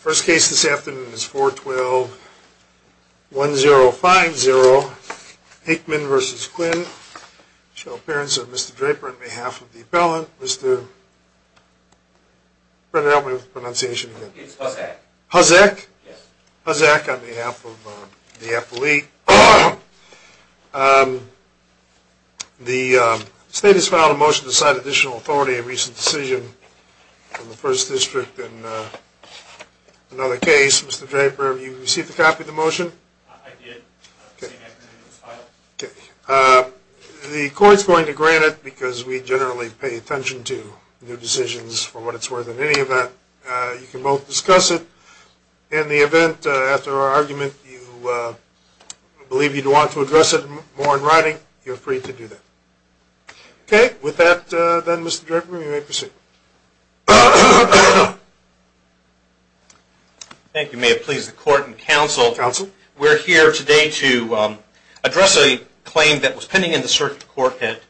First case this afternoon is 4-12-1050, Akemann v. Quinn, appearance of Mr. Draper on behalf of the appellant, Mr. Hosek on behalf of the appellate. The state has filed a motion to cite additional authority on a recent decision from the First District in another case. Mr. Draper, have you received a copy of the motion? I did, the same afternoon it was filed. The court is going to grant it because we generally pay attention to new decisions for what it's worth in any event. You can both discuss it. In the event, after our argument, you believe you'd want to address it more in writing, you're free to do that. Okay, with that then Mr. Draper, you may proceed. Thank you. May it please the court and counsel, we're here today to address a claim that was pending in the circuit court that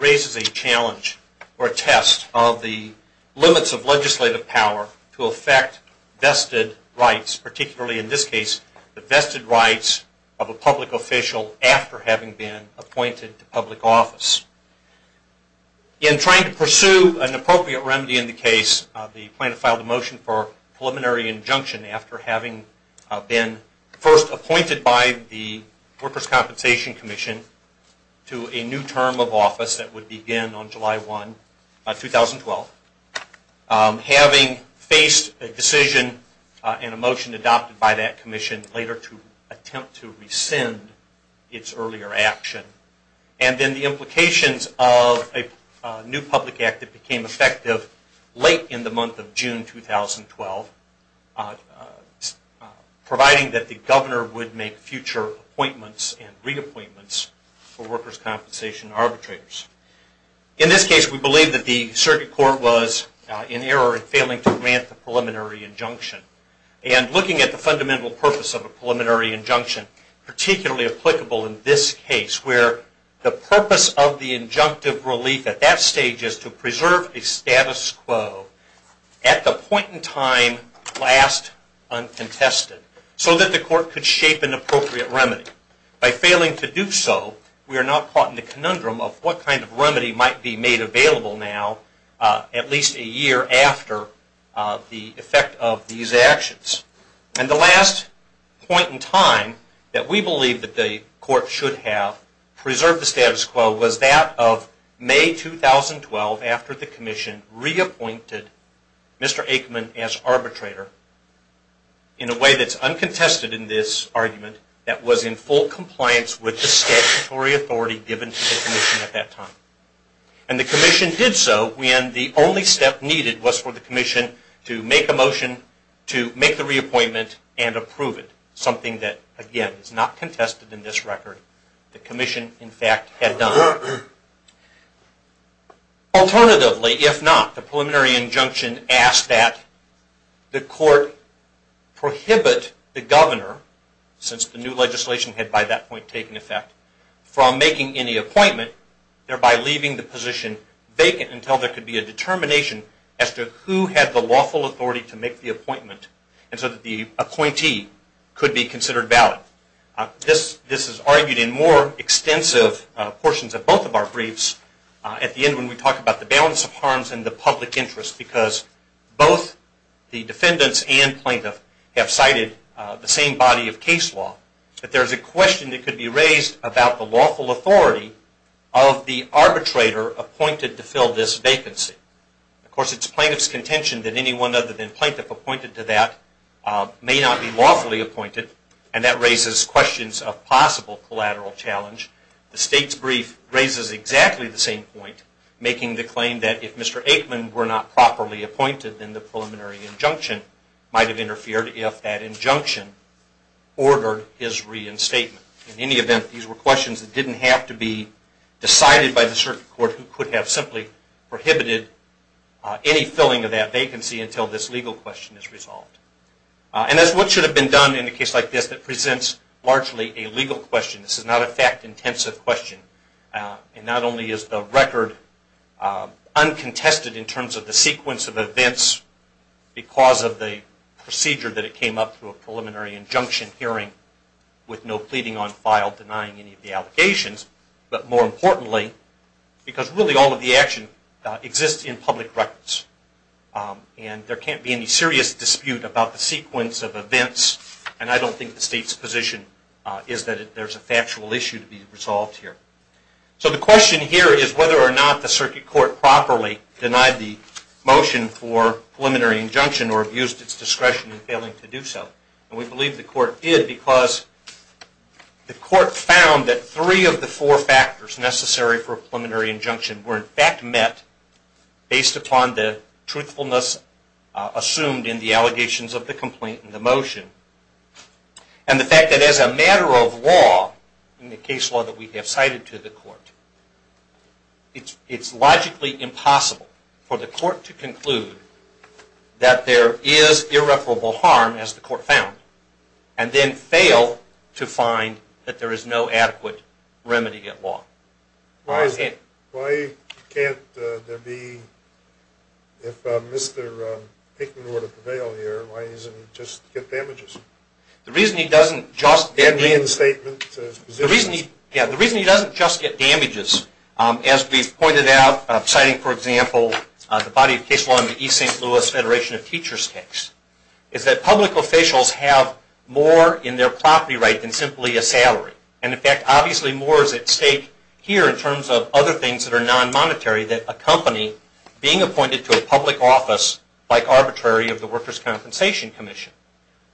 raises a challenge or a test of the limits of legislative power to affect vested rights, particularly in this case, the vested rights of a public official after having been appointed to public office. In trying to pursue an appropriate remedy in the case, the plaintiff filed a motion for preliminary injunction after having been first appointed by the Workers' Compensation Commission to a new term of office that would begin on July 1, 2012. Having faced a decision and a motion adopted by that commission later to attempt to rescind its earlier action, and then the implications of a new public act that became effective late in the month of June 2012, providing that the governor would make future appointments and reappointments for workers' compensation arbitrators. In this case, we believe that the circuit court was in error in failing to grant the preliminary injunction. And looking at the fundamental purpose of a preliminary injunction, particularly applicable in this case, where the purpose of the injunctive relief at that stage is to preserve a status quo at the point in time last uncontested so that the court could shape an appropriate remedy. By failing to do so, we are now caught in the conundrum of what kind of remedy might be made available now at least a year after the effect of these actions. And the last point in time that we believe that the court should have preserved the status quo was that of May 2012 after the commission reappointed Mr. Aikman as arbitrator in a way that's uncontested in this argument, that was in full compliance with the statutory authority given to the commission at that time. And the commission did so when the only step needed was for the commission to make a motion to make the reappointment and approve it, something that, again, is not contested in this record. The commission, in fact, had done. Alternatively, if not, the preliminary injunction asks that the court prohibit the governor, since the new legislation had by that point taken effect, from making any appointment, thereby leaving the position vacant until there could be a determination as to who had the lawful authority to make the appointment and so that the appointee could be considered valid. This is argued in more extensive portions of both of our briefs at the end when we talk about the balance of harms and the public interest because both the defendants and plaintiff have cited the same body of case law. But there's a question that could be raised about the lawful authority of the arbitrator appointed to fill this vacancy. Of course, it's plaintiff's contention that anyone other than plaintiff appointed to that may not be lawfully appointed, and that raises questions of possible collateral challenge. The state's brief raises exactly the same point, making the claim that if Mr. Aikman were not properly appointed, then the preliminary injunction might have interfered if that injunction ordered his reinstatement. In any event, these were questions that didn't have to be decided by the circuit court who could have simply prohibited any filling of that vacancy until this legal question is resolved. And that's what should have been done in a case like this that presents largely a legal question. This is not a fact-intensive question. Not only is the record uncontested in terms of the sequence of events because of the procedure that it came up through a preliminary injunction hearing with no pleading on file denying any of the allegations, but more importantly, because really all of the action exists in public records. And there can't be any serious dispute about the sequence of events, and I don't think the state's position is that there's a factual issue to be resolved here. So the question here is whether or not the circuit court properly denied the motion for preliminary injunction or abused its discretion in failing to do so. And we believe the court did because the court found that three of the four factors necessary for a preliminary injunction were in fact met based upon the truthfulness assumed in the allegations of the complaint and the motion. And the fact that as a matter of law, in the case law that we have cited to the court, it's logically impossible for the court to conclude that there is irreparable harm, as the court found, and then fail to find that there is no adequate remedy at law. Why can't there be, if Mr. Pinkman were to prevail here, why doesn't he just get damages? The reason he doesn't just get damages, as we've pointed out, citing for example the body of case law in the East St. Louis Federation of Teachers case, is that public officials have more in their property right than simply a salary. And in fact, obviously more is at stake here in terms of other things that are non-monetary that accompany being appointed to a public office like arbitrary of the Workers' Compensation Commission.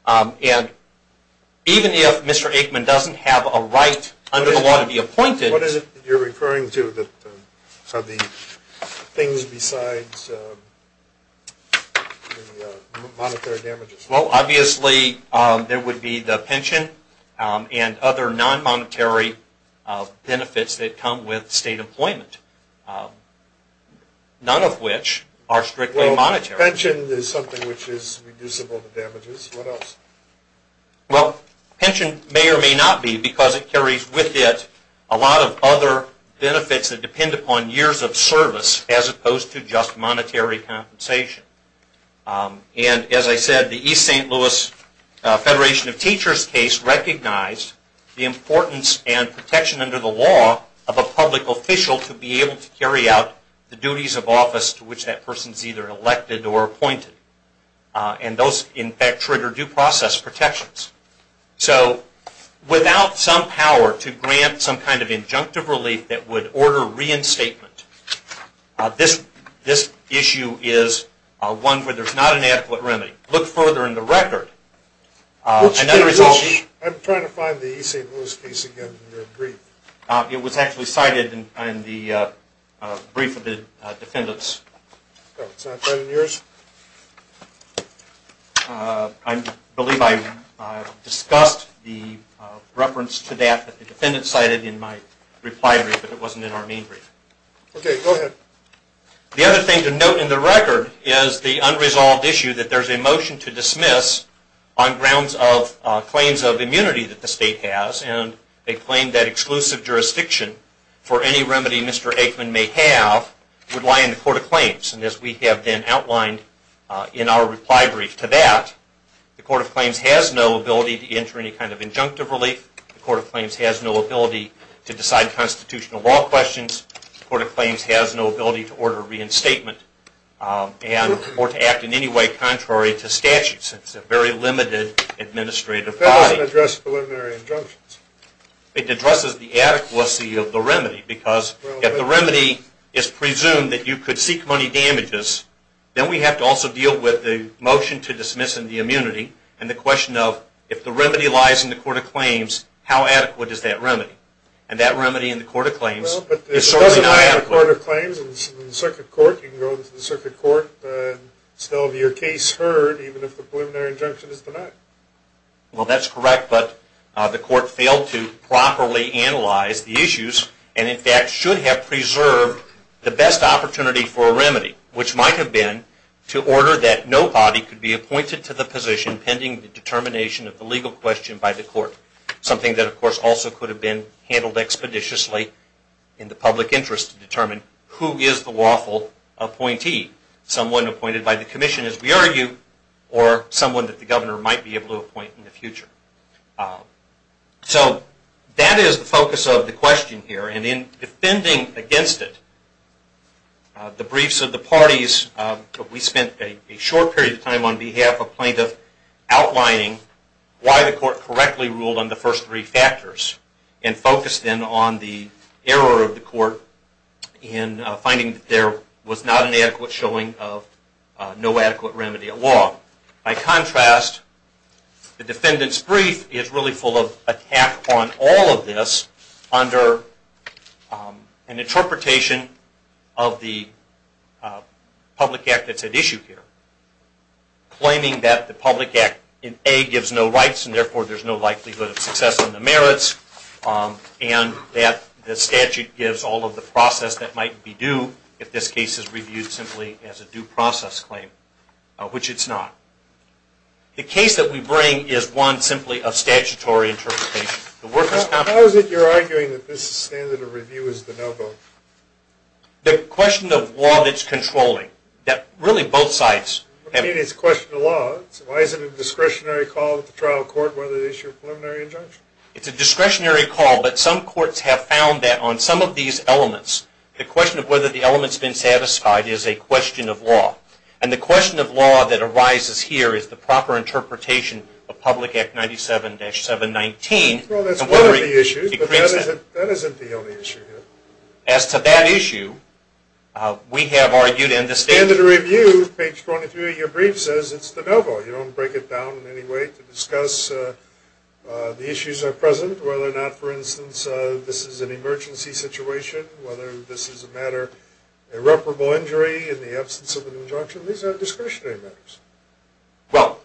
And even if Mr. Aikman doesn't have a right under the law to be appointed... Well, obviously there would be the pension and other non-monetary benefits that come with state employment, none of which are strictly monetary. Well, pension is something which is reducible to damages. What else? Well, pension may or may not be because it carries with it a lot of other benefits that depend upon years of service as opposed to just monetary compensation. And as I said, the East St. Louis Federation of Teachers case recognized the importance and protection under the law of a public official to be able to carry out the duties of office to which that person is either elected or appointed. And those, in fact, trigger due process protections. So without some power to grant some kind of injunctive relief that would order reinstatement, this issue is one where there's not an adequate remedy. Look further in the record. I'm trying to find the East St. Louis case again in your brief. It was actually cited in the brief of the defendants. Oh, it's not been in yours? I believe I discussed the reference to that that the defendant cited in my reply brief, but it wasn't in our main brief. Okay, go ahead. The other thing to note in the record is the unresolved issue that there's a motion to dismiss on grounds of claims of immunity that the state has, and a claim that exclusive jurisdiction for any remedy Mr. Aikman may have would lie in the Court of Claims. And as we have then outlined in our reply brief to that, the Court of Claims has no ability to enter any kind of injunctive relief. The Court of Claims has no ability to decide constitutional law questions. The Court of Claims has no ability to order reinstatement or to act in any way contrary to statutes. It's a very limited administrative body. It doesn't address preliminary injunctions. It addresses the adequacy of the remedy, because if the remedy is presumed that you could seek money damages, then we have to also deal with the motion to dismiss and the immunity, and the question of if the remedy lies in the Court of Claims, how adequate is that remedy? And that remedy in the Court of Claims is certainly not adequate. Well, but if it doesn't lie in the Court of Claims, in the Circuit Court, you can go to the Circuit Court and still have your case heard, even if the preliminary injunction is denied. Well, that's correct, but the Court failed to properly analyze the issues and, in fact, should have preserved the best opportunity for a remedy, which might have been to order that no body could be appointed to the position pending the determination of the legal question by the Court, something that, of course, also could have been handled expeditiously in the public interest to determine who is the lawful appointee, someone appointed by the Commission, as we argue, or someone that the governor might be able to appoint in the future. So that is the focus of the question here, and in defending against it, the briefs of the parties, we spent a short period of time on behalf of plaintiffs outlining why the Court correctly ruled on the first three factors and focused, then, on the error of the Court in finding that there was not an adequate showing of no adequate remedy at law. By contrast, the defendant's brief is really full of attack on all of this under an interpretation of the public act that's at issue here, and that the statute gives all of the process that might be due if this case is reviewed simply as a due process claim, which it's not. The case that we bring is one simply of statutory interpretation. How is it you're arguing that this standard of review is the no vote? The question of law that's controlling, that really both sides have... I mean, it's a question of law. Why is it a discretionary call at the trial court whether to issue a preliminary injunction? It's a discretionary call, but some courts have found that on some of these elements, the question of whether the element's been satisfied is a question of law, and the question of law that arises here is the proper interpretation of Public Act 97-719. Well, that's one of the issues, but that isn't the only issue here. As to that issue, we have argued in the statute... You don't break it down in any way to discuss the issues that are present, whether or not, for instance, this is an emergency situation, whether this is a matter of irreparable injury in the absence of an injunction. These are discretionary matters. Well,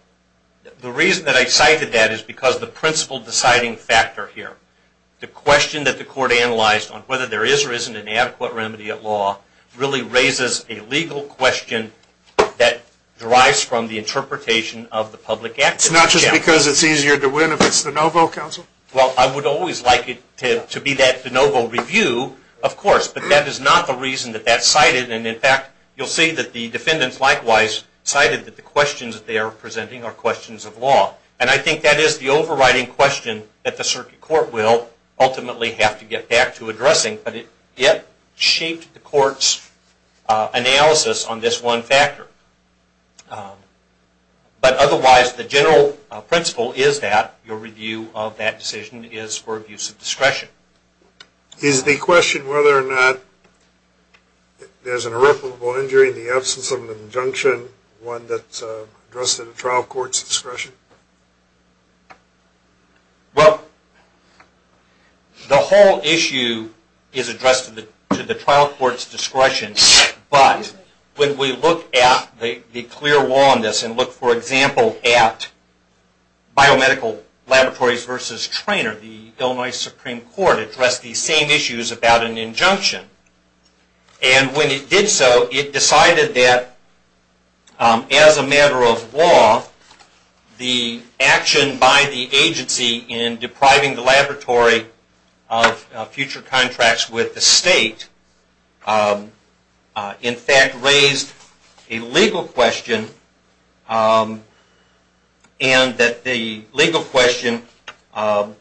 the reason that I cited that is because of the principle deciding factor here. The question that the court analyzed on whether there is or isn't an adequate remedy at law really raises a legal question that derives from the interpretation of the Public Act 97-719. It's not just because it's easier to win if it's de novo, counsel? Well, I would always like it to be that de novo review, of course, but that is not the reason that that's cited, and in fact, you'll see that the defendants likewise cited that the questions that they are presenting are questions of law, and I think that is the overriding question that the circuit court will ultimately have to get back to addressing, but it shaped the court's analysis on this one factor. But otherwise, the general principle is that your review of that decision is for abuse of discretion. Is the question whether or not there's an irreparable injury in the absence of an injunction one that's addressed in a trial court's discretion? Well, the whole issue is addressed to the trial court's discretion, but when we look at the clear law on this and look, for example, at biomedical laboratories versus trainer, the Illinois Supreme Court addressed these same issues about an injunction, and when it did so, it decided that as a matter of law, the action by the agency in depriving the laboratory of future contracts with the state, in fact, raised a legal question, and that the legal question that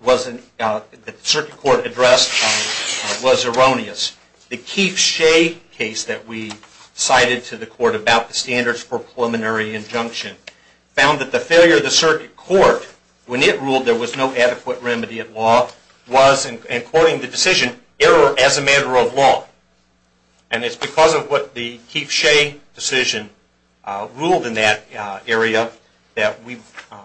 the circuit court addressed was erroneous. The Keith Shea case that we cited to the court about the standards for preliminary injunction found that the failure of the circuit court, when it ruled there was no adequate remedy at law, was, and according to the decision, error as a matter of law. And it's because of what the Keith Shea decision ruled in that area that we've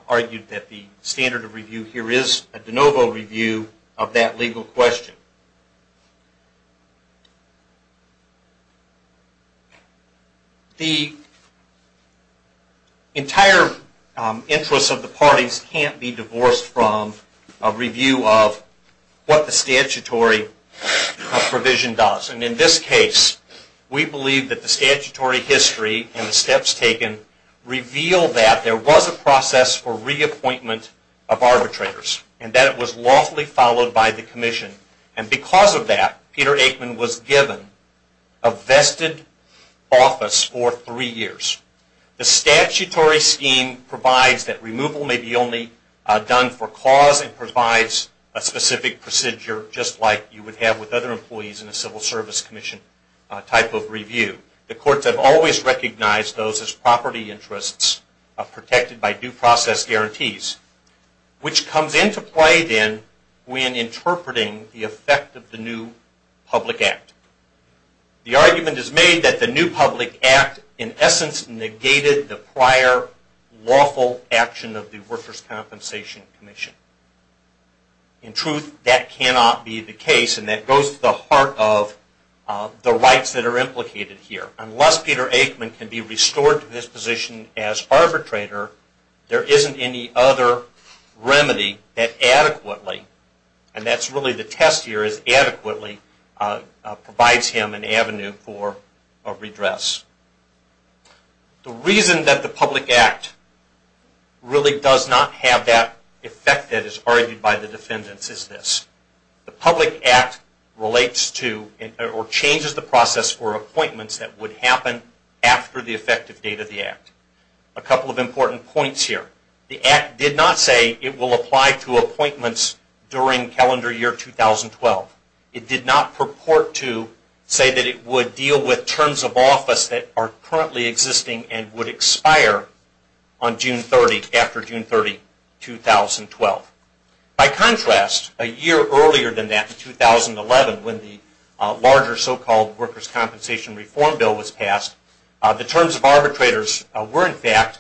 argued that the standard of review here is a de novo review of that legal question. The entire interests of the parties can't be divorced from a review of what the statutory provision does, and in this case, we believe that the statutory history and the steps taken reveal that there was a process for reappointment of arbitrators and that it was lawfully followed by the commission, and because of that, Peter Aikman was given a vested office for three years. The statutory scheme provides that removal may be only done for cause and provides a specific procedure just like you would have with other employees in a civil service commission type of review. The courts have always recognized those as property interests protected by due process guarantees, which comes into play then when interpreting the effect of the new public act. The argument is made that the new public act, in essence, negated the prior lawful action of the Workers' Compensation Commission. In truth, that cannot be the case, and that goes to the heart of the rights that are implicated here. Unless Peter Aikman can be restored to this position as arbitrator, there isn't any other remedy that adequately, and that's really the test here is adequately, provides him an avenue for a redress. The reason that the public act really does not have that effect that is argued by the defendants is this. The public act relates to or changes the process for appointments that would happen after the effective date of the act. A couple of important points here. The act did not say it will apply to appointments during calendar year 2012. It did not purport to say that it would deal with terms of office that are currently existing and would expire on June 30, after June 30, 2012. By contrast, a year earlier than that, in 2011, when the larger so-called Workers' Compensation Reform Bill was passed, the terms of arbitrators were, in fact,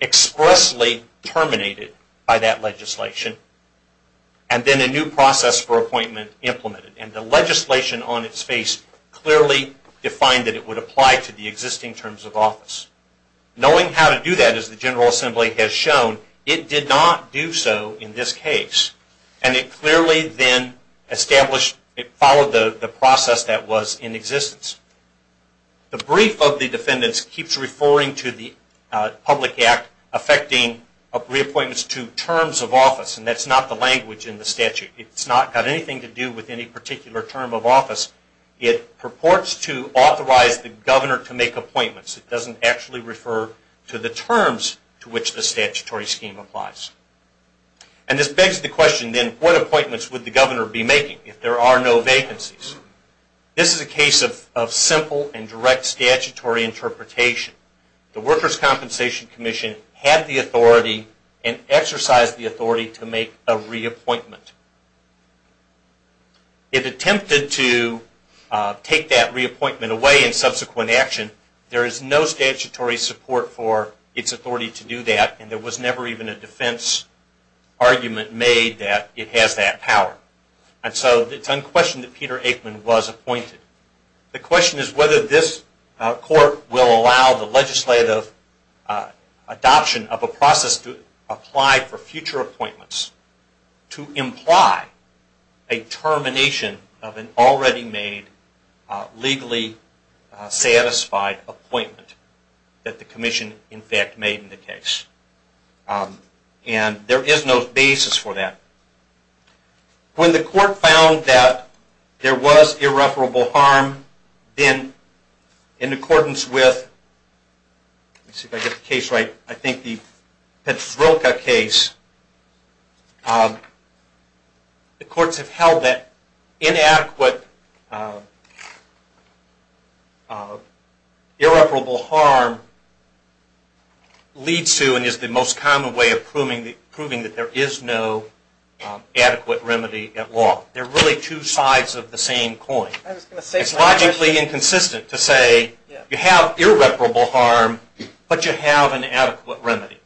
expressly terminated by that legislation and then a new process for appointment implemented, and the legislation on its face clearly defined that it would apply to the existing terms of office. Knowing how to do that, as the General Assembly has shown, it did not do so in this case, and it clearly then established, it followed the process that was in existence. The brief of the defendants keeps referring to the public act affecting reappointments to terms of office, and that's not the language in the statute. It's not got anything to do with any particular term of office. It purports to authorize the governor to make appointments. It doesn't actually refer to the terms to which the statutory scheme applies. And this begs the question, then, what appointments would the governor be making if there are no vacancies? This is a case of simple and direct statutory interpretation. The Workers' Compensation Commission had the authority and exercised the authority to make a reappointment. It attempted to take that reappointment away in subsequent action. There is no statutory support for its authority to do that, and there was never even a defense argument made that it has that power. And so it's unquestioned that Peter Aikman was appointed. The question is whether this court will allow the legislative adoption of a process to apply for future appointments to imply a termination of an already made, legally satisfied appointment that the commission, in fact, made in the case. And there is no basis for that. When the court found that there was irreparable harm, then, in accordance with, let me see if I get the case right, I think the Petros-Rilke case, the courts have held that inadequate irreparable harm leads to, is the most common way of proving that there is no adequate remedy at law. They're really two sides of the same coin. It's logically inconsistent to say you have irreparable harm, but you have an adequate remedy.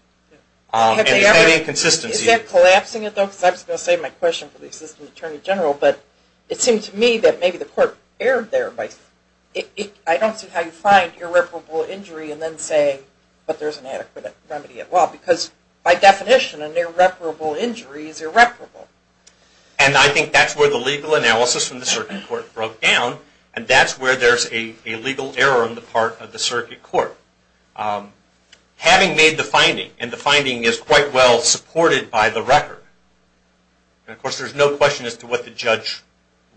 Is that collapsing it, though? Because I was going to save my question for the Assistant Attorney General, but it seemed to me that maybe the court erred there. I don't see how you find irreparable injury and then say, but there's an adequate remedy at law. Because, by definition, an irreparable injury is irreparable. And I think that's where the legal analysis from the circuit court broke down, and that's where there's a legal error on the part of the circuit court. Having made the finding, and the finding is quite well supported by the record, and, of course, there's no question as to what the judge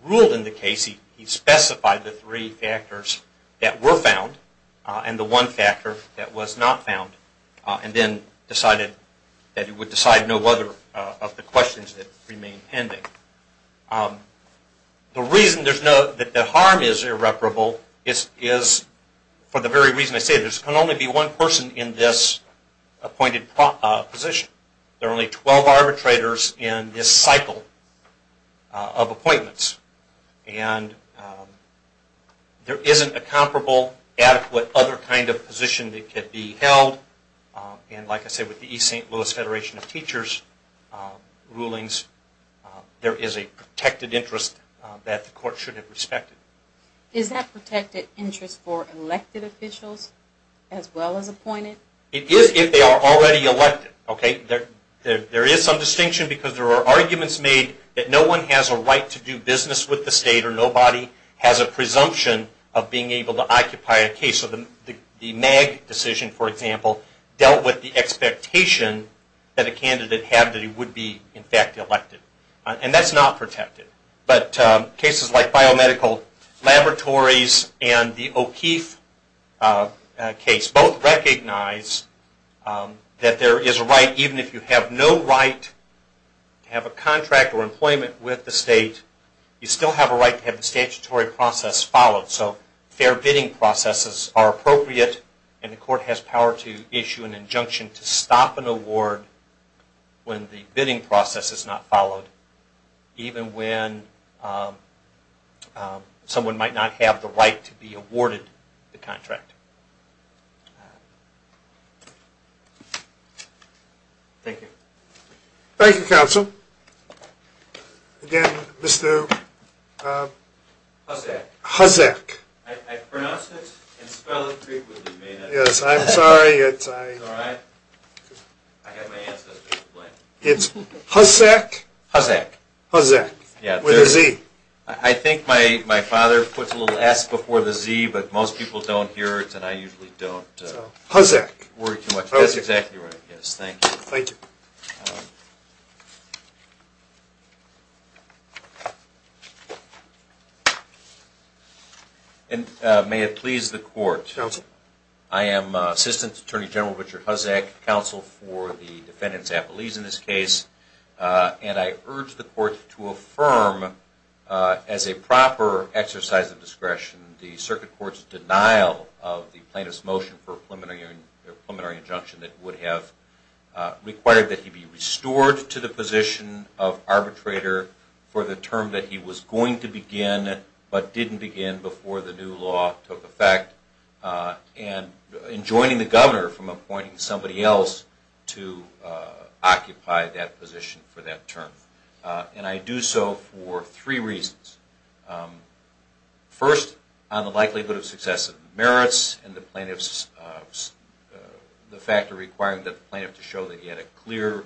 ruled in the case. He specified the three factors that were found, and the one factor that was not found, and then decided that he would decide no other of the questions that remain pending. The reason that the harm is irreparable is for the very reason I said. There can only be one person in this appointed position. There are only 12 arbitrators in this cycle of appointments, and there isn't a comparable, adequate, other kind of position that could be held. And, like I said, with the East St. Louis Federation of Teachers rulings, there is a protected interest that the court should have respected. Is that protected interest for elected officials as well as appointed? It is if they are already elected. There is some distinction because there are arguments made that no one has a right to do business with the state, or nobody has a presumption of being able to occupy a case. The Mag decision, for example, dealt with the expectation that a candidate had that he would be, in fact, elected. And that's not protected. But cases like biomedical laboratories and the O'Keefe case both recognize that there is a right, even if you have no right to have a contract or employment with the state, you still have a right to have the statutory process followed. So fair bidding processes are appropriate, and the court has power to issue an injunction to stop an award when the bidding process is not followed, even when someone might not have the right to be awarded the contract. Thank you. Thank you, Counsel. Again, Mr. Hussack. I pronounce it and spell it frequently. Yes, I'm sorry. It's all right. I have my ancestors to blame. It's Hussack? Hussack. Hussack, with a Z. I think my father puts a little S before the Z, but most people don't hear it, and I usually don't worry too much. Hussack. That's exactly right, yes. Thank you. Thank you. And may it please the court. Counsel. I am Assistant Attorney General Richard Hussack, counsel for the defendants' appellees in this case, and I urge the court to affirm as a proper exercise of discretion the circuit court's denial of the plaintiff's motion for a preliminary injunction that would have required that he be restored to the position of arbitrator for the term that he was going to begin, but didn't begin before the new law took effect. And in joining the governor from appointing somebody else to occupy that position for that term. And I do so for three reasons. First, on the likelihood of successive merits and the fact of requiring the plaintiff to show that he had a clear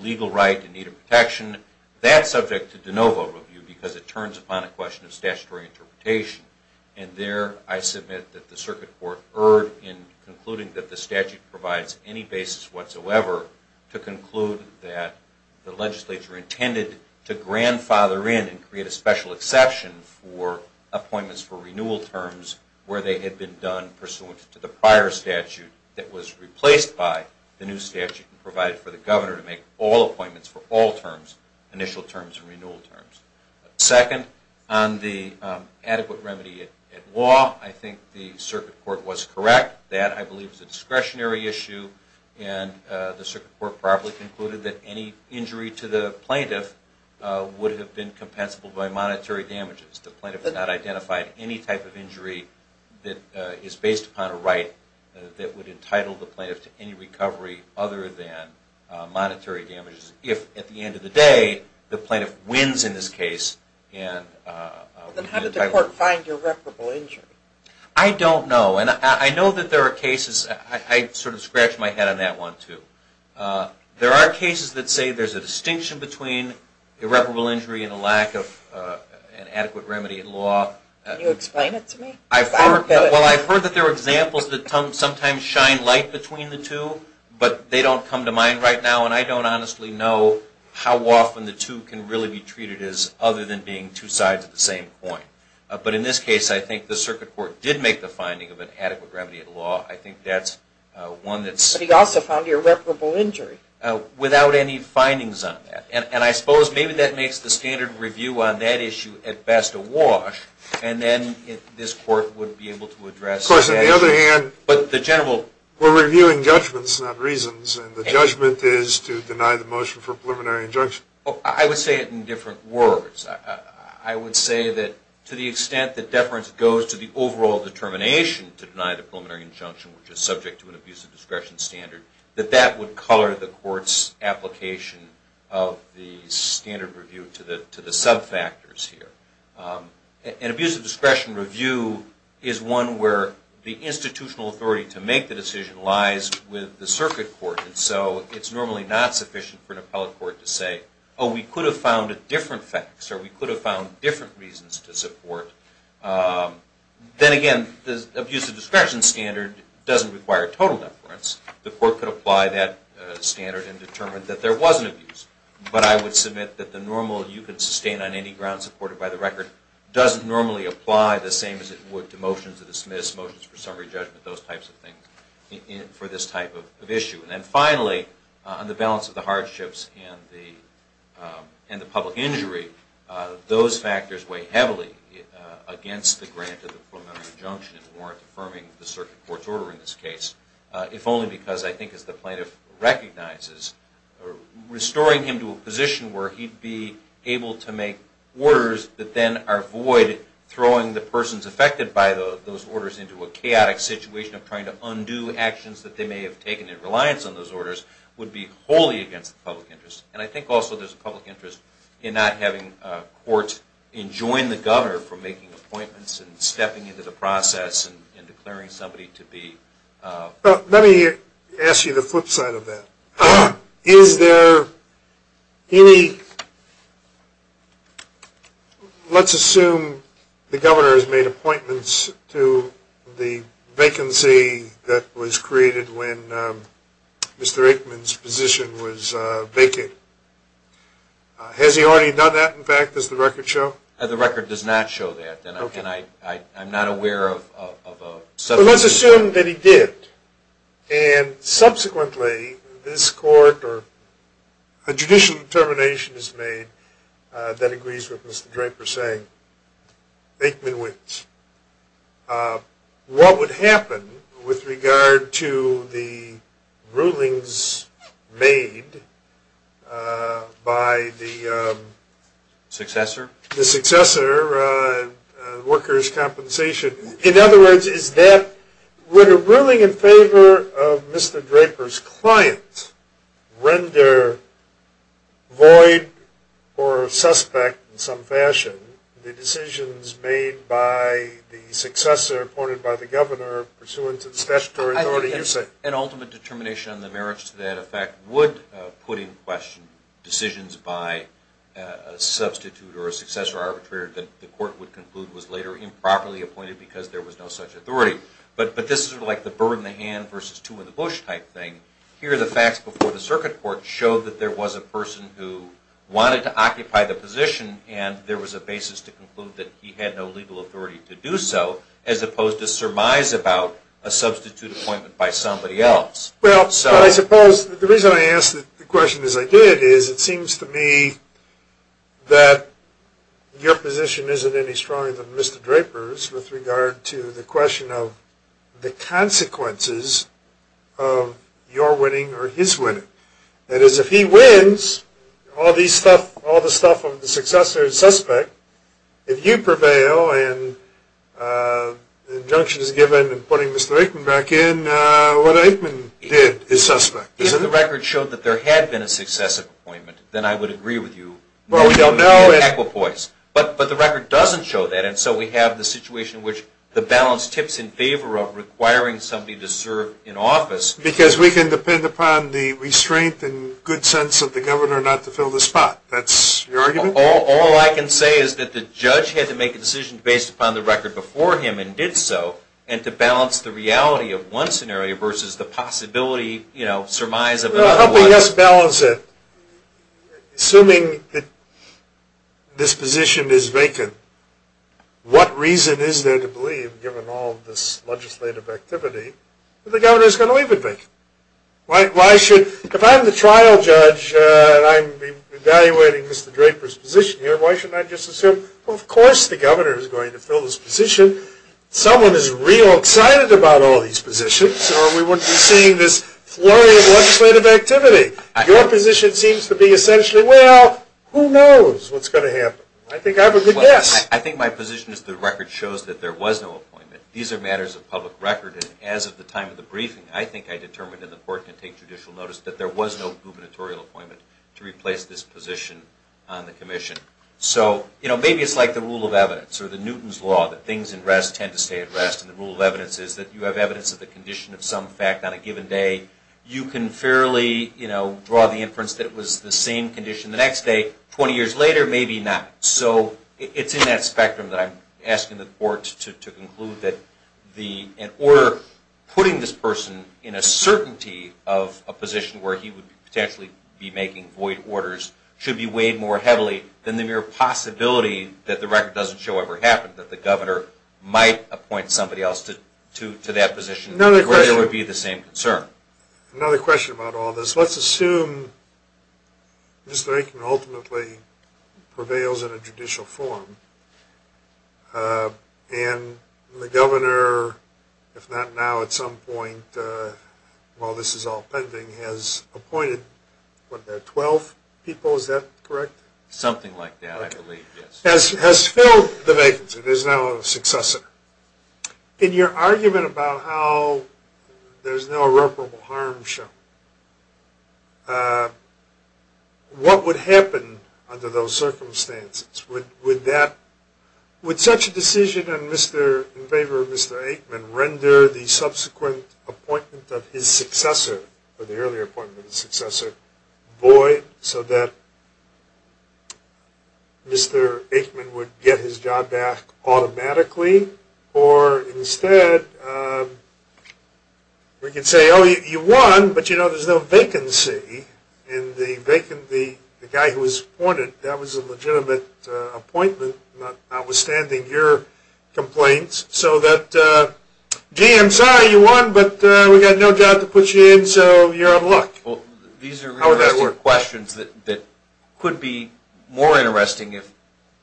legal right in need of protection, that's subject to de novo review because it turns upon a question of statutory interpretation. And there I submit that the circuit court erred in concluding that the statute provides any basis whatsoever to conclude that the legislature intended to grandfather in and create a special exception for appointments for renewal terms where they had been done pursuant to the prior statute that was replaced by the new statute and provided for the governor to make all appointments for all terms, initial terms and renewal terms. Second, on the adequate remedy at law, I think the circuit court was correct. That, I believe, is a discretionary issue and the circuit court probably concluded that any injury to the plaintiff would have been compensable by monetary damages. The plaintiff did not identify any type of injury that is based upon a right that would entitle the plaintiff to any recovery other than monetary damages if, at the end of the day, the plaintiff wins in this case. Then how did the court find irreparable injury? I don't know. And I know that there are cases, I sort of scratched my head on that one too. There are cases that say there's a distinction between irreparable injury and a lack of an adequate remedy in law. Can you explain it to me? Well, I've heard that there are examples that sometimes shine light between the two, but they don't come to mind right now and I don't honestly know how often the two can really be treated as other than being two sides of the same coin. But in this case, I think the circuit court did make the finding of an adequate remedy in law. I think that's one that's... But he also found irreparable injury. Without any findings on that. And I suppose maybe that makes the standard review on that issue at best a wash and then this court would be able to address that issue. Of course, on the other hand... We're reviewing judgments, not reasons, and the judgment is to deny the motion for preliminary injunction. I would say it in different words. I would say that to the extent that deference goes to the overall determination to deny the preliminary injunction, which is subject to an abusive discretion standard, that that would color the court's application of the standard review to the sub-factors here. An abusive discretion review is one where the institutional authority to make the decision lies with the circuit court. And so it's normally not sufficient for an appellate court to say, oh, we could have found different facts or we could have found different reasons to support. Then again, the abusive discretion standard doesn't require total deference. The court could apply that standard and determine that there was an abuse. But I would submit that the normal you could sustain on any ground supported by the record doesn't normally apply the same as it would to motions of dismiss, motions for summary judgment, those types of things for this type of issue. And then finally, on the balance of the hardships and the public injury, those factors weigh heavily against the grant of the preliminary injunction and warrant affirming the circuit court's order in this case, if only because I think as the plaintiff recognizes, restoring him to a position where he'd be able to make orders that then are void, throwing the persons affected by those orders into a chaotic situation of trying to undo actions that they may have taken in reliance on those orders would be wholly against the public interest. And I think also there's a public interest in not having courts enjoin the governor from making appointments and stepping into the process and declaring somebody to be. Let me ask you the flip side of that. Is there any, let's assume the governor has made appointments to the vacancy that was created when Mr. Aikman's position was vacant. Has he already done that in fact? Does the record show? The record does not show that, and I'm not aware of a subpoena. Well, let's assume that he did, and subsequently this court or a judicial determination is made that agrees with Mr. Draper saying Aikman wins. What would happen with regard to the rulings made by the successor, workers' compensation? In other words, is that when a ruling in favor of Mr. Draper's client render void or suspect in some fashion the decisions made by the successor appointed by the governor pursuant to the statutory authority you say? I think an ultimate determination on the merits to that effect would put in question decisions by a substitute or a successor arbitrator that the court would conclude was later improperly appointed because there was no such authority. But this is like the bird in the hand versus two in the bush type thing. Here the facts before the circuit court show that there was a person who wanted to occupy the position and there was a basis to conclude that he had no legal authority to do so as opposed to surmise about a substitute appointment by somebody else. Well, I suppose the reason I ask the question as I did is it seems to me that your position isn't any stronger than Mr. Draper's with regard to the question of the consequences of your winning or his winning. That is, if he wins, all the stuff of the successor is suspect. If you prevail and the injunction is given in putting Mr. Aikman back in, what Aikman did is suspect. If the record showed that there had been a successive appointment, then I would agree with you. Well, we don't know. Equipoise. But the record doesn't show that. And so we have the situation in which the balance tips in favor of requiring somebody to serve in office. Because we can depend upon the restraint and good sense of the governor not to fill the spot. That's your argument? All I can say is that the judge had to make a decision based upon the record before him and did so and to balance the reality of one scenario versus the possibility, you know, surmise of another one. Assuming that this position is vacant, what reason is there to believe, given all of this legislative activity, that the governor is going to leave it vacant? If I'm the trial judge and I'm evaluating Mr. Draper's position here, why shouldn't I just assume, of course the governor is going to fill this position. Someone is real excited about all these positions or we wouldn't be seeing this flurry of legislative activity. Your position seems to be essentially, well, who knows what's going to happen. I think I have a good guess. Well, I think my position is the record shows that there was no appointment. These are matters of public record. And as of the time of the briefing, I think I determined in the court to take judicial notice that there was no gubernatorial appointment to replace this position on the commission. So, you know, maybe it's like the rule of evidence or the Newton's law that things in rest tend to stay at rest. And the rule of evidence is that you have evidence of the condition of some fact on a given day. You can fairly, you know, draw the inference that it was the same condition the next day. Twenty years later, maybe not. So it's in that spectrum that I'm asking the court to conclude that an order putting this person in a certainty of a position where he would potentially be making void orders should be weighed more heavily than the mere possibility that the record doesn't show ever happened, that the governor might appoint somebody else to that position where there would be the same concern. Another question about all this. Let's assume Mr. Aitken ultimately prevails in a judicial forum. And the governor, if not now, at some point, while this is all pending, has appointed, what, 12 people? Is that correct? Something like that, I believe, yes. Has filled the vacancy. There's now a successor. In your argument about how there's no irreparable harm shown, what would happen under those circumstances? Would that, would such a decision in favor of Mr. Aitken render the subsequent appointment of his successor, or the earlier appointment of his successor, void so that Mr. Aitken would get his job back automatically? Or instead, we could say, oh, you won, but, you know, there's no vacancy. And the guy who was appointed, that was a legitimate appointment, notwithstanding your complaints. So that, gee, I'm sorry you won, but we've got no doubt to put you in, so you're out of luck. Well, these are questions that could be more interesting if,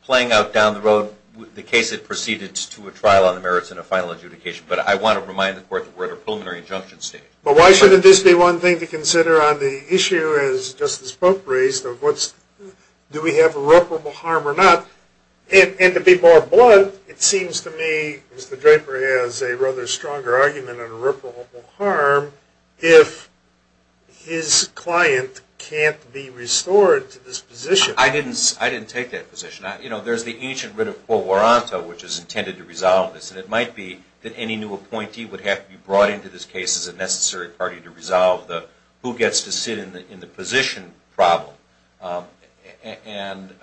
playing out down the road, the case had proceeded to a trial on the merits and a final adjudication. But I want to remind the court that we're at a preliminary injunction stage. But why shouldn't this be one thing to consider on the issue, as Justice Pope raised, of what's, do we have irreparable harm or not? And to be more blunt, it seems to me Mr. Draper has a rather stronger argument on irreparable harm if his client can't be restored to this position. I didn't take that position. You know, there's the ancient writ of quo voronto, which is intended to resolve this. And it might be that any new appointee would have to be brought into this case as a necessary party to resolve the who gets to sit in the position problem. And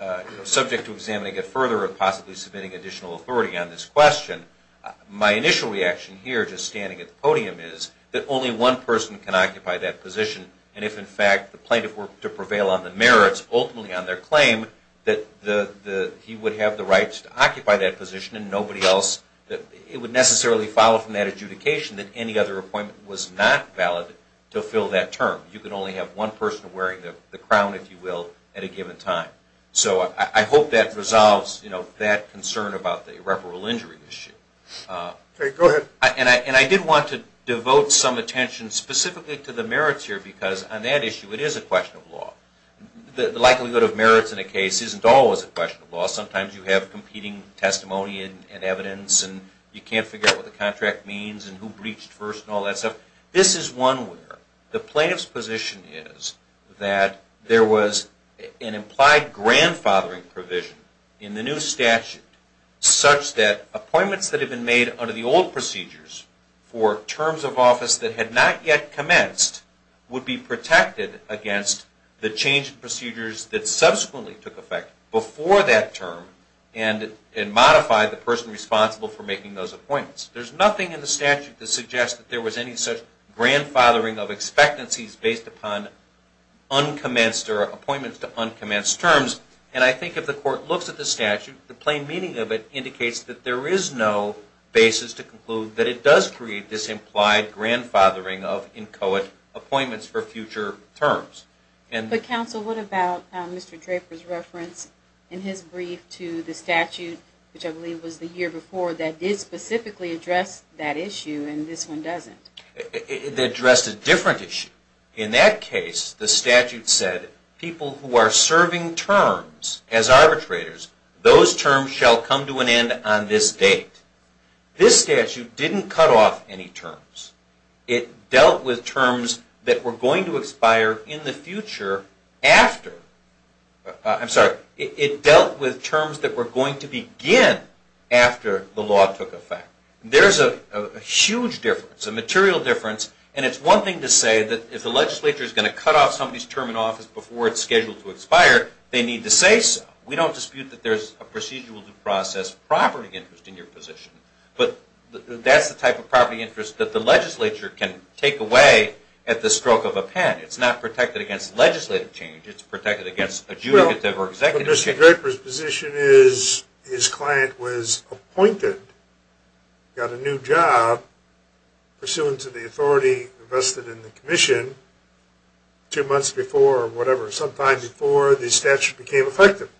subject to examining it further or possibly submitting additional authority on this question, my initial reaction here, just standing at the podium, is that only one person can occupy that position. And if, in fact, the plaintiff were to prevail on the merits, ultimately on their claim, that he would have the rights to occupy that position and nobody else. It would necessarily follow from that adjudication that any other appointment was not valid to fill that term. You could only have one person wearing the crown, if you will, at a given time. So I hope that resolves, you know, that concern about the irreparable injury issue. Okay, go ahead. And I did want to devote some attention specifically to the merits here because on that issue it is a question of law. The likelihood of merits in a case isn't always a question of law. Sometimes you have competing testimony and evidence and you can't figure out what the contract means and who breached first and all that stuff. This is one where the plaintiff's position is that there was an implied grandfathering provision in the new statute such that appointments that had been made under the old procedures for terms of office that had not yet commenced would be protected against the change in procedures that subsequently took effect before that term and modify the person responsible for making those appointments. There's nothing in the statute that suggests that there was any such grandfathering of expectancies based upon uncommenced or appointments to uncommenced terms. And I think if the court looks at the statute, the plain meaning of it indicates that there is no basis to conclude that it does create this implied grandfathering of inchoate appointments for future terms. But counsel, what about Mr. Draper's reference in his brief to the statute, which I believe was the year before, that did specifically address that issue and this one doesn't? It addressed a different issue. In that case, the statute said people who are serving terms as arbitrators, those terms shall come to an end on this date. This statute didn't cut off any terms. It dealt with terms that were going to expire in the future after. I'm sorry, it dealt with terms that were going to begin after the law took effect. There's a huge difference, a material difference, and it's one thing to say that if the legislature is going to cut off somebody's term in office before it's scheduled to expire, they need to say so. We don't dispute that there's a procedural due process property interest in your position, but that's the type of property interest that the legislature can take away at the stroke of a pen. It's not protected against legislative change. It's protected against adjudicative or executive change. Well, Mr. Draper's position is his client was appointed, got a new job, pursuant to the authority vested in the commission two months before or whatever, sometime before the statute became effective.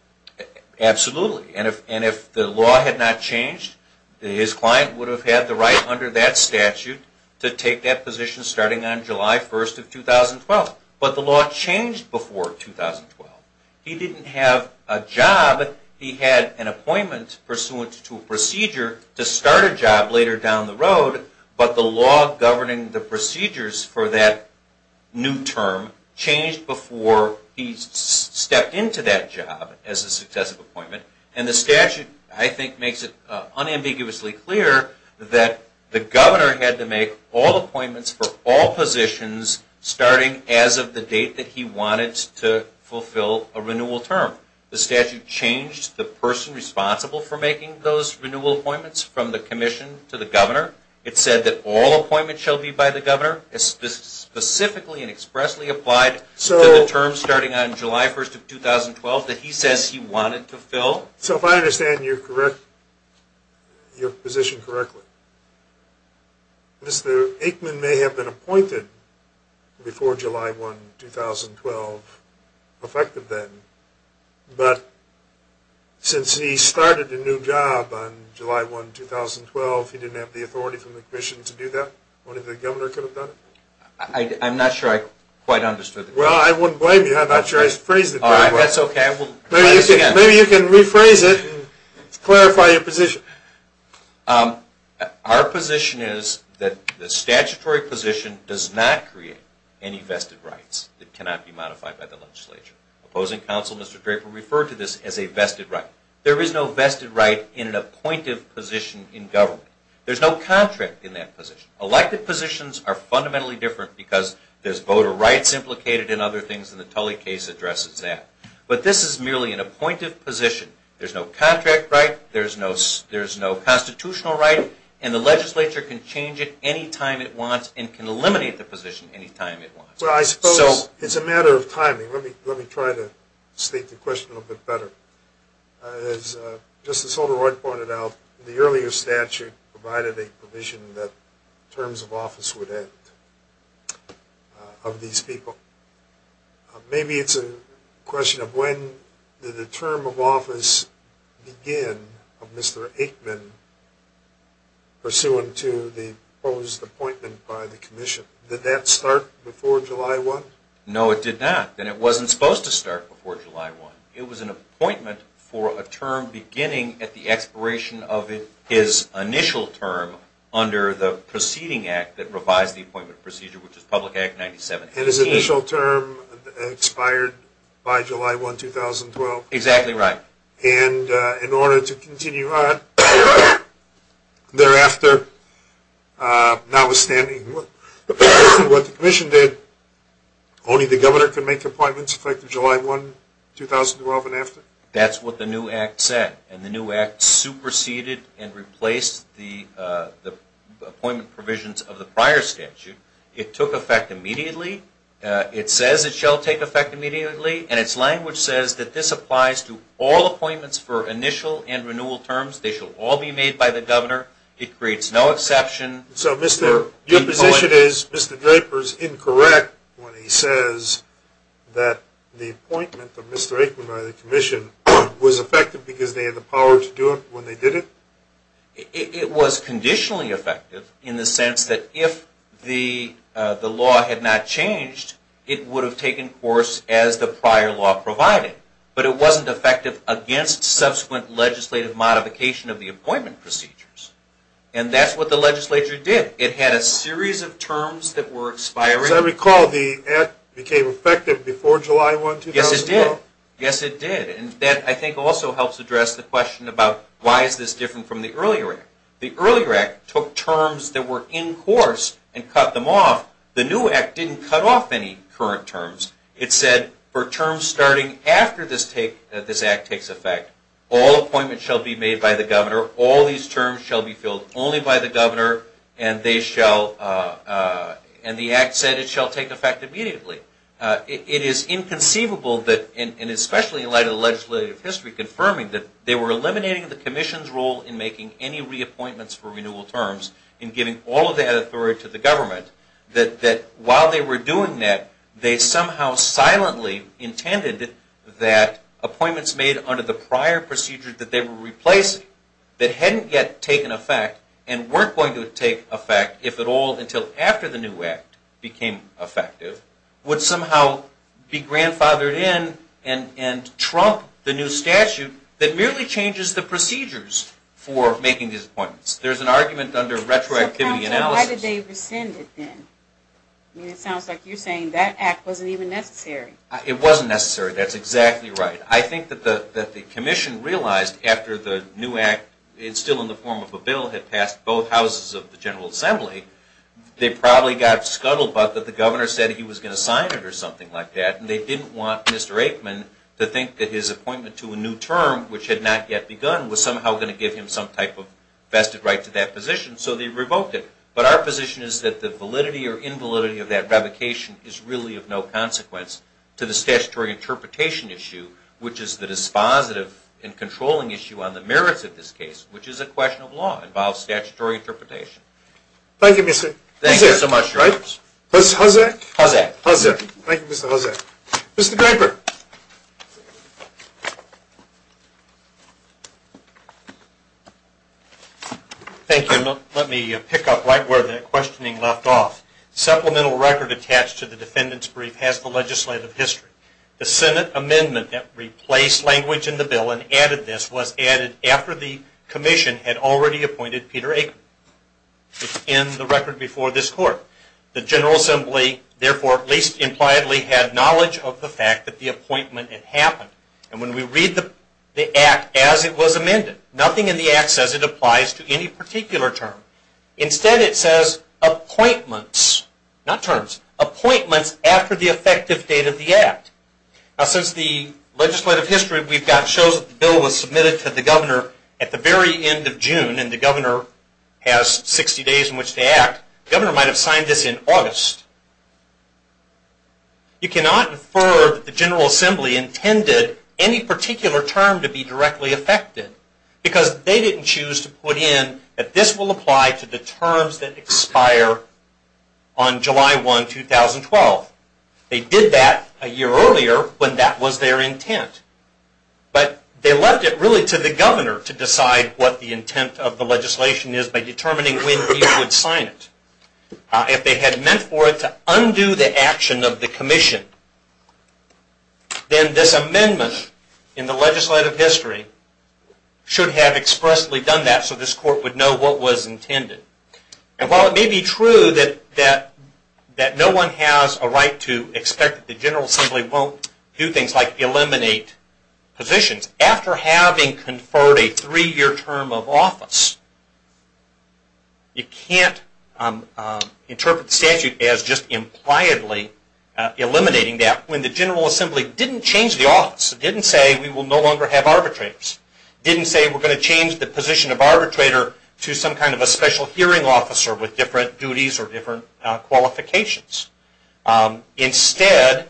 Absolutely. And if the law had not changed, his client would have had the right under that statute to take that position starting on July 1st of 2012. But the law changed before 2012. He didn't have a job. He had an appointment pursuant to a procedure to start a job later down the road, but the law governing the procedures for that new term changed before he stepped into that job as a successive appointment. And the statute, I think, makes it unambiguously clear that the governor had to make all appointments for all positions starting as of the date that he wanted to fulfill a renewal term. The statute changed the person responsible for making those renewal appointments from the commission to the governor. It said that all appointments shall be by the governor, specifically and expressly applied to the term starting on July 1st of 2012 that he says he wanted to fill. So if I understand your position correctly, Mr. Aikman may have been appointed before July 1, 2012, effective then, but since he started a new job on July 1, 2012, he didn't have the authority from the commission to do that? Only the governor could have done it? I'm not sure I quite understood the question. Well, I wouldn't blame you. I'm not sure I phrased it very well. All right, that's okay. Maybe you can rephrase it and clarify your position. Our position is that the statutory position does not create any vested rights. It cannot be modified by the legislature. Opposing counsel, Mr. Draper, referred to this as a vested right. There is no vested right in an appointive position in government. There's no contract in that position. Elected positions are fundamentally different because there's voter rights implicated and other things, and the Tully case addresses that. But this is merely an appointive position. There's no contract right, there's no constitutional right, and the legislature can change it any time it wants and can eliminate the position any time it wants. Well, I suppose it's a matter of timing. Let me try to state the question a little bit better. As Justice Holderoid pointed out, the earlier statute provided a provision that terms of office would end of these people. Maybe it's a question of when did the term of office begin of Mr. Aikman, pursuant to the proposed appointment by the commission? Did that start before July 1? No, it did not, and it wasn't supposed to start before July 1. It was an appointment for a term beginning at the expiration of his initial term under the proceeding act that revised the appointment procedure, which is Public Act 9718. And his initial term expired by July 1, 2012. Exactly right. And in order to continue on thereafter, notwithstanding what the commission did, only the governor could make appointments effective July 1, 2012 and after? That's what the new act said, and the new act superseded and replaced the appointment provisions of the prior statute. It took effect immediately. It says it shall take effect immediately, and its language says that this applies to all appointments for initial and renewal terms. They shall all be made by the governor. It creates no exception. So your position is Mr. Draper is incorrect when he says that the appointment of Mr. Aikman by the commission was effective because they had the power to do it when they did it? It was conditionally effective in the sense that if the law had not changed, it would have taken course as the prior law provided. But it wasn't effective against subsequent legislative modification of the appointment procedures. And that's what the legislature did. It had a series of terms that were expiring. As I recall, the act became effective before July 1, 2012? Yes, it did. Yes, it did. And that, I think, also helps address the question about why is this different from the earlier act. The earlier act took terms that were in course and cut them off. The new act didn't cut off any current terms. It said for terms starting after this act takes effect, all appointments shall be made by the governor, all these terms shall be filled only by the governor, and the act said it shall take effect immediately. It is inconceivable, and especially in light of the legislative history, confirming that they were eliminating the commission's role in making any reappointments for renewal terms and giving all of that authority to the government, that while they were doing that, they somehow silently intended that appointments made under the prior procedures that they were replacing that hadn't yet taken effect and weren't going to take effect, if at all, until after the new act became effective, would somehow be grandfathered in and trump the new statute that merely changes the procedures for making these appointments. There's an argument under retroactivity analysis. Why did they rescind it then? It sounds like you're saying that act wasn't even necessary. It wasn't necessary. That's exactly right. I think that the commission realized after the new act, still in the form of a bill, had passed both houses of the General Assembly, they probably got scuttled about that the governor said he was going to sign it or something like that, and they didn't want Mr. Aikman to think that his appointment to a new term, which had not yet begun, was somehow going to give him some type of vested right to that position, so they revoked it. But our position is that the validity or invalidity of that revocation is really of no consequence to the statutory interpretation issue, which is the dispositive and controlling issue on the merits of this case, which is a question of law and involves statutory interpretation. Thank you, Mr. Hosek. Thank you so much, Judge. Mr. Hosek. Hosek. Hosek. Thank you, Mr. Hosek. Mr. Graper. Thank you. Let me pick up right where the questioning left off. Supplemental record attached to the defendant's brief has the legislative history. The Senate amendment that replaced language in the bill and added this was added after the commission had already appointed Peter Aikman. It's in the record before this Court. The General Assembly, therefore, at least impliedly, had knowledge of the fact that the appointment had happened. And when we read the Act as it was amended, nothing in the Act says it applies to any particular term. Instead, it says appointments, not terms, appointments after the effective date of the Act. Now, since the legislative history we've got shows that the bill was submitted to the governor at the very end of June and the governor has 60 days in which to act, the governor might have signed this in August. You cannot infer that the General Assembly intended any particular term to be directly affected because they didn't choose to put in that this will apply to the terms that expire on July 1, 2012. They did that a year earlier when that was their intent. But they left it really to the governor to decide what the intent of the legislation is by determining when he would sign it. If they had meant for it to undo the action of the commission, then this amendment in the legislative history should have expressly done that so this Court would know what was intended. And while it may be true that no one has a right to expect that the General Assembly won't do things like eliminate positions, after having conferred a three-year term of office, you can't interpret the statute as just impliedly eliminating that when the General Assembly didn't change the office. It didn't say we will no longer have arbitrators. It didn't say we're going to change the position of arbitrator to some kind of a special hearing officer with different duties or different qualifications. Instead,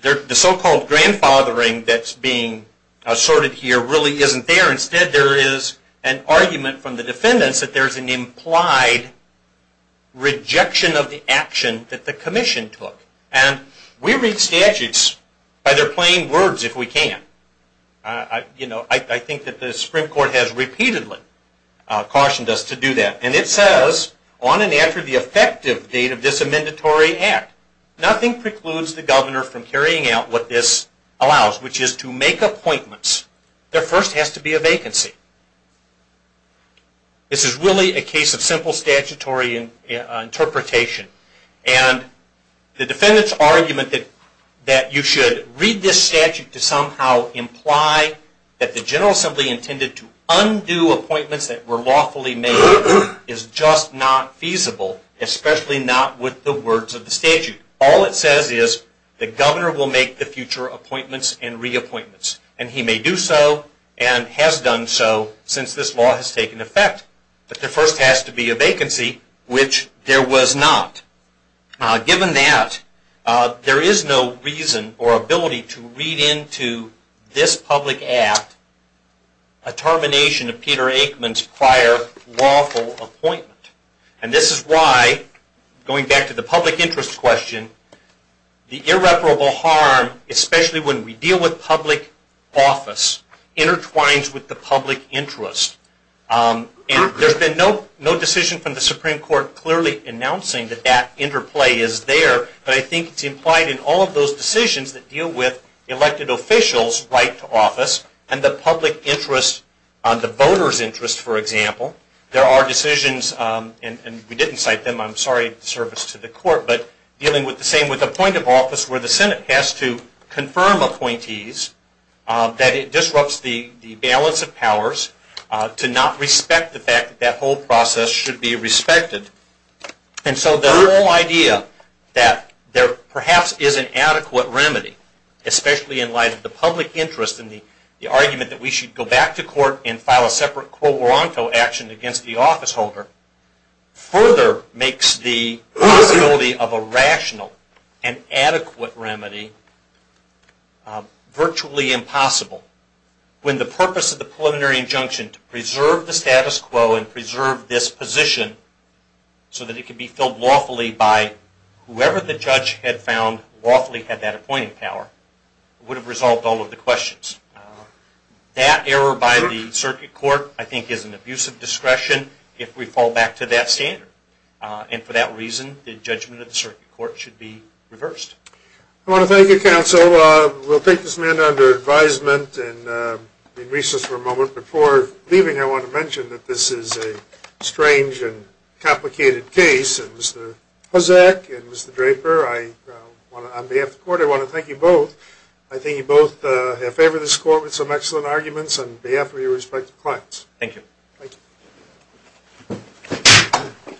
the so-called grandfathering that's being assorted here really isn't there. Instead, there is an argument from the defendants that there is an implied rejection of the action that the commission took. And we read statutes by their plain words if we can. I think that the Supreme Court has repeatedly cautioned us to do that. And it says, on and after the effective date of this amendatory act, nothing precludes the governor from carrying out what this allows, which is to make appointments. There first has to be a vacancy. This is really a case of simple statutory interpretation. And the defendants' argument that you should read this statute to somehow imply that the General Assembly intended to undo appointments that were lawfully made is just not feasible, especially not with the words of the statute. All it says is the governor will make the future appointments and reappointments. And he may do so and has done so since this law has taken effect. But there first has to be a vacancy, which there was not. Given that, there is no reason or ability to read into this public act a termination of Peter Aikman's prior lawful appointment. And this is why, going back to the public interest question, the irreparable harm, especially when we deal with public office, intertwines with the public interest. And there's been no decision from the Supreme Court clearly announcing that that interplay is there, but I think it's implied in all of those decisions that deal with elected officials' right to office and the public interest, the voters' interest, for example. There are decisions, and we didn't cite them, I'm sorry, in service to the court, but dealing with the same with the point of office where the Senate has to confirm appointees, that it disrupts the balance of powers to not respect the fact that that whole process should be respected. And so the whole idea that there perhaps is an adequate remedy, especially in light of the public interest and the argument that we should go back to court and file a separate quo ronto action against the officeholder, further makes the possibility of a rational and adequate remedy virtually impossible, when the purpose of the preliminary injunction to preserve the status quo and preserve this position so that it can be filled lawfully by whoever the judge had found lawfully had that appointing power, would have resolved all of the questions. That error by the circuit court, I think, is an abusive discretion if we fall back to that standard. And for that reason, the judgment of the circuit court should be reversed. I want to thank you, counsel. We'll take this matter under advisement and recess for a moment. Before leaving, I want to mention that this is a strange and complicated case, and Mr. Hozek and Mr. Draper, on behalf of the court, I want to thank you both. I think you both have favored this court with some excellent arguments, on behalf of your respective clients. Thank you.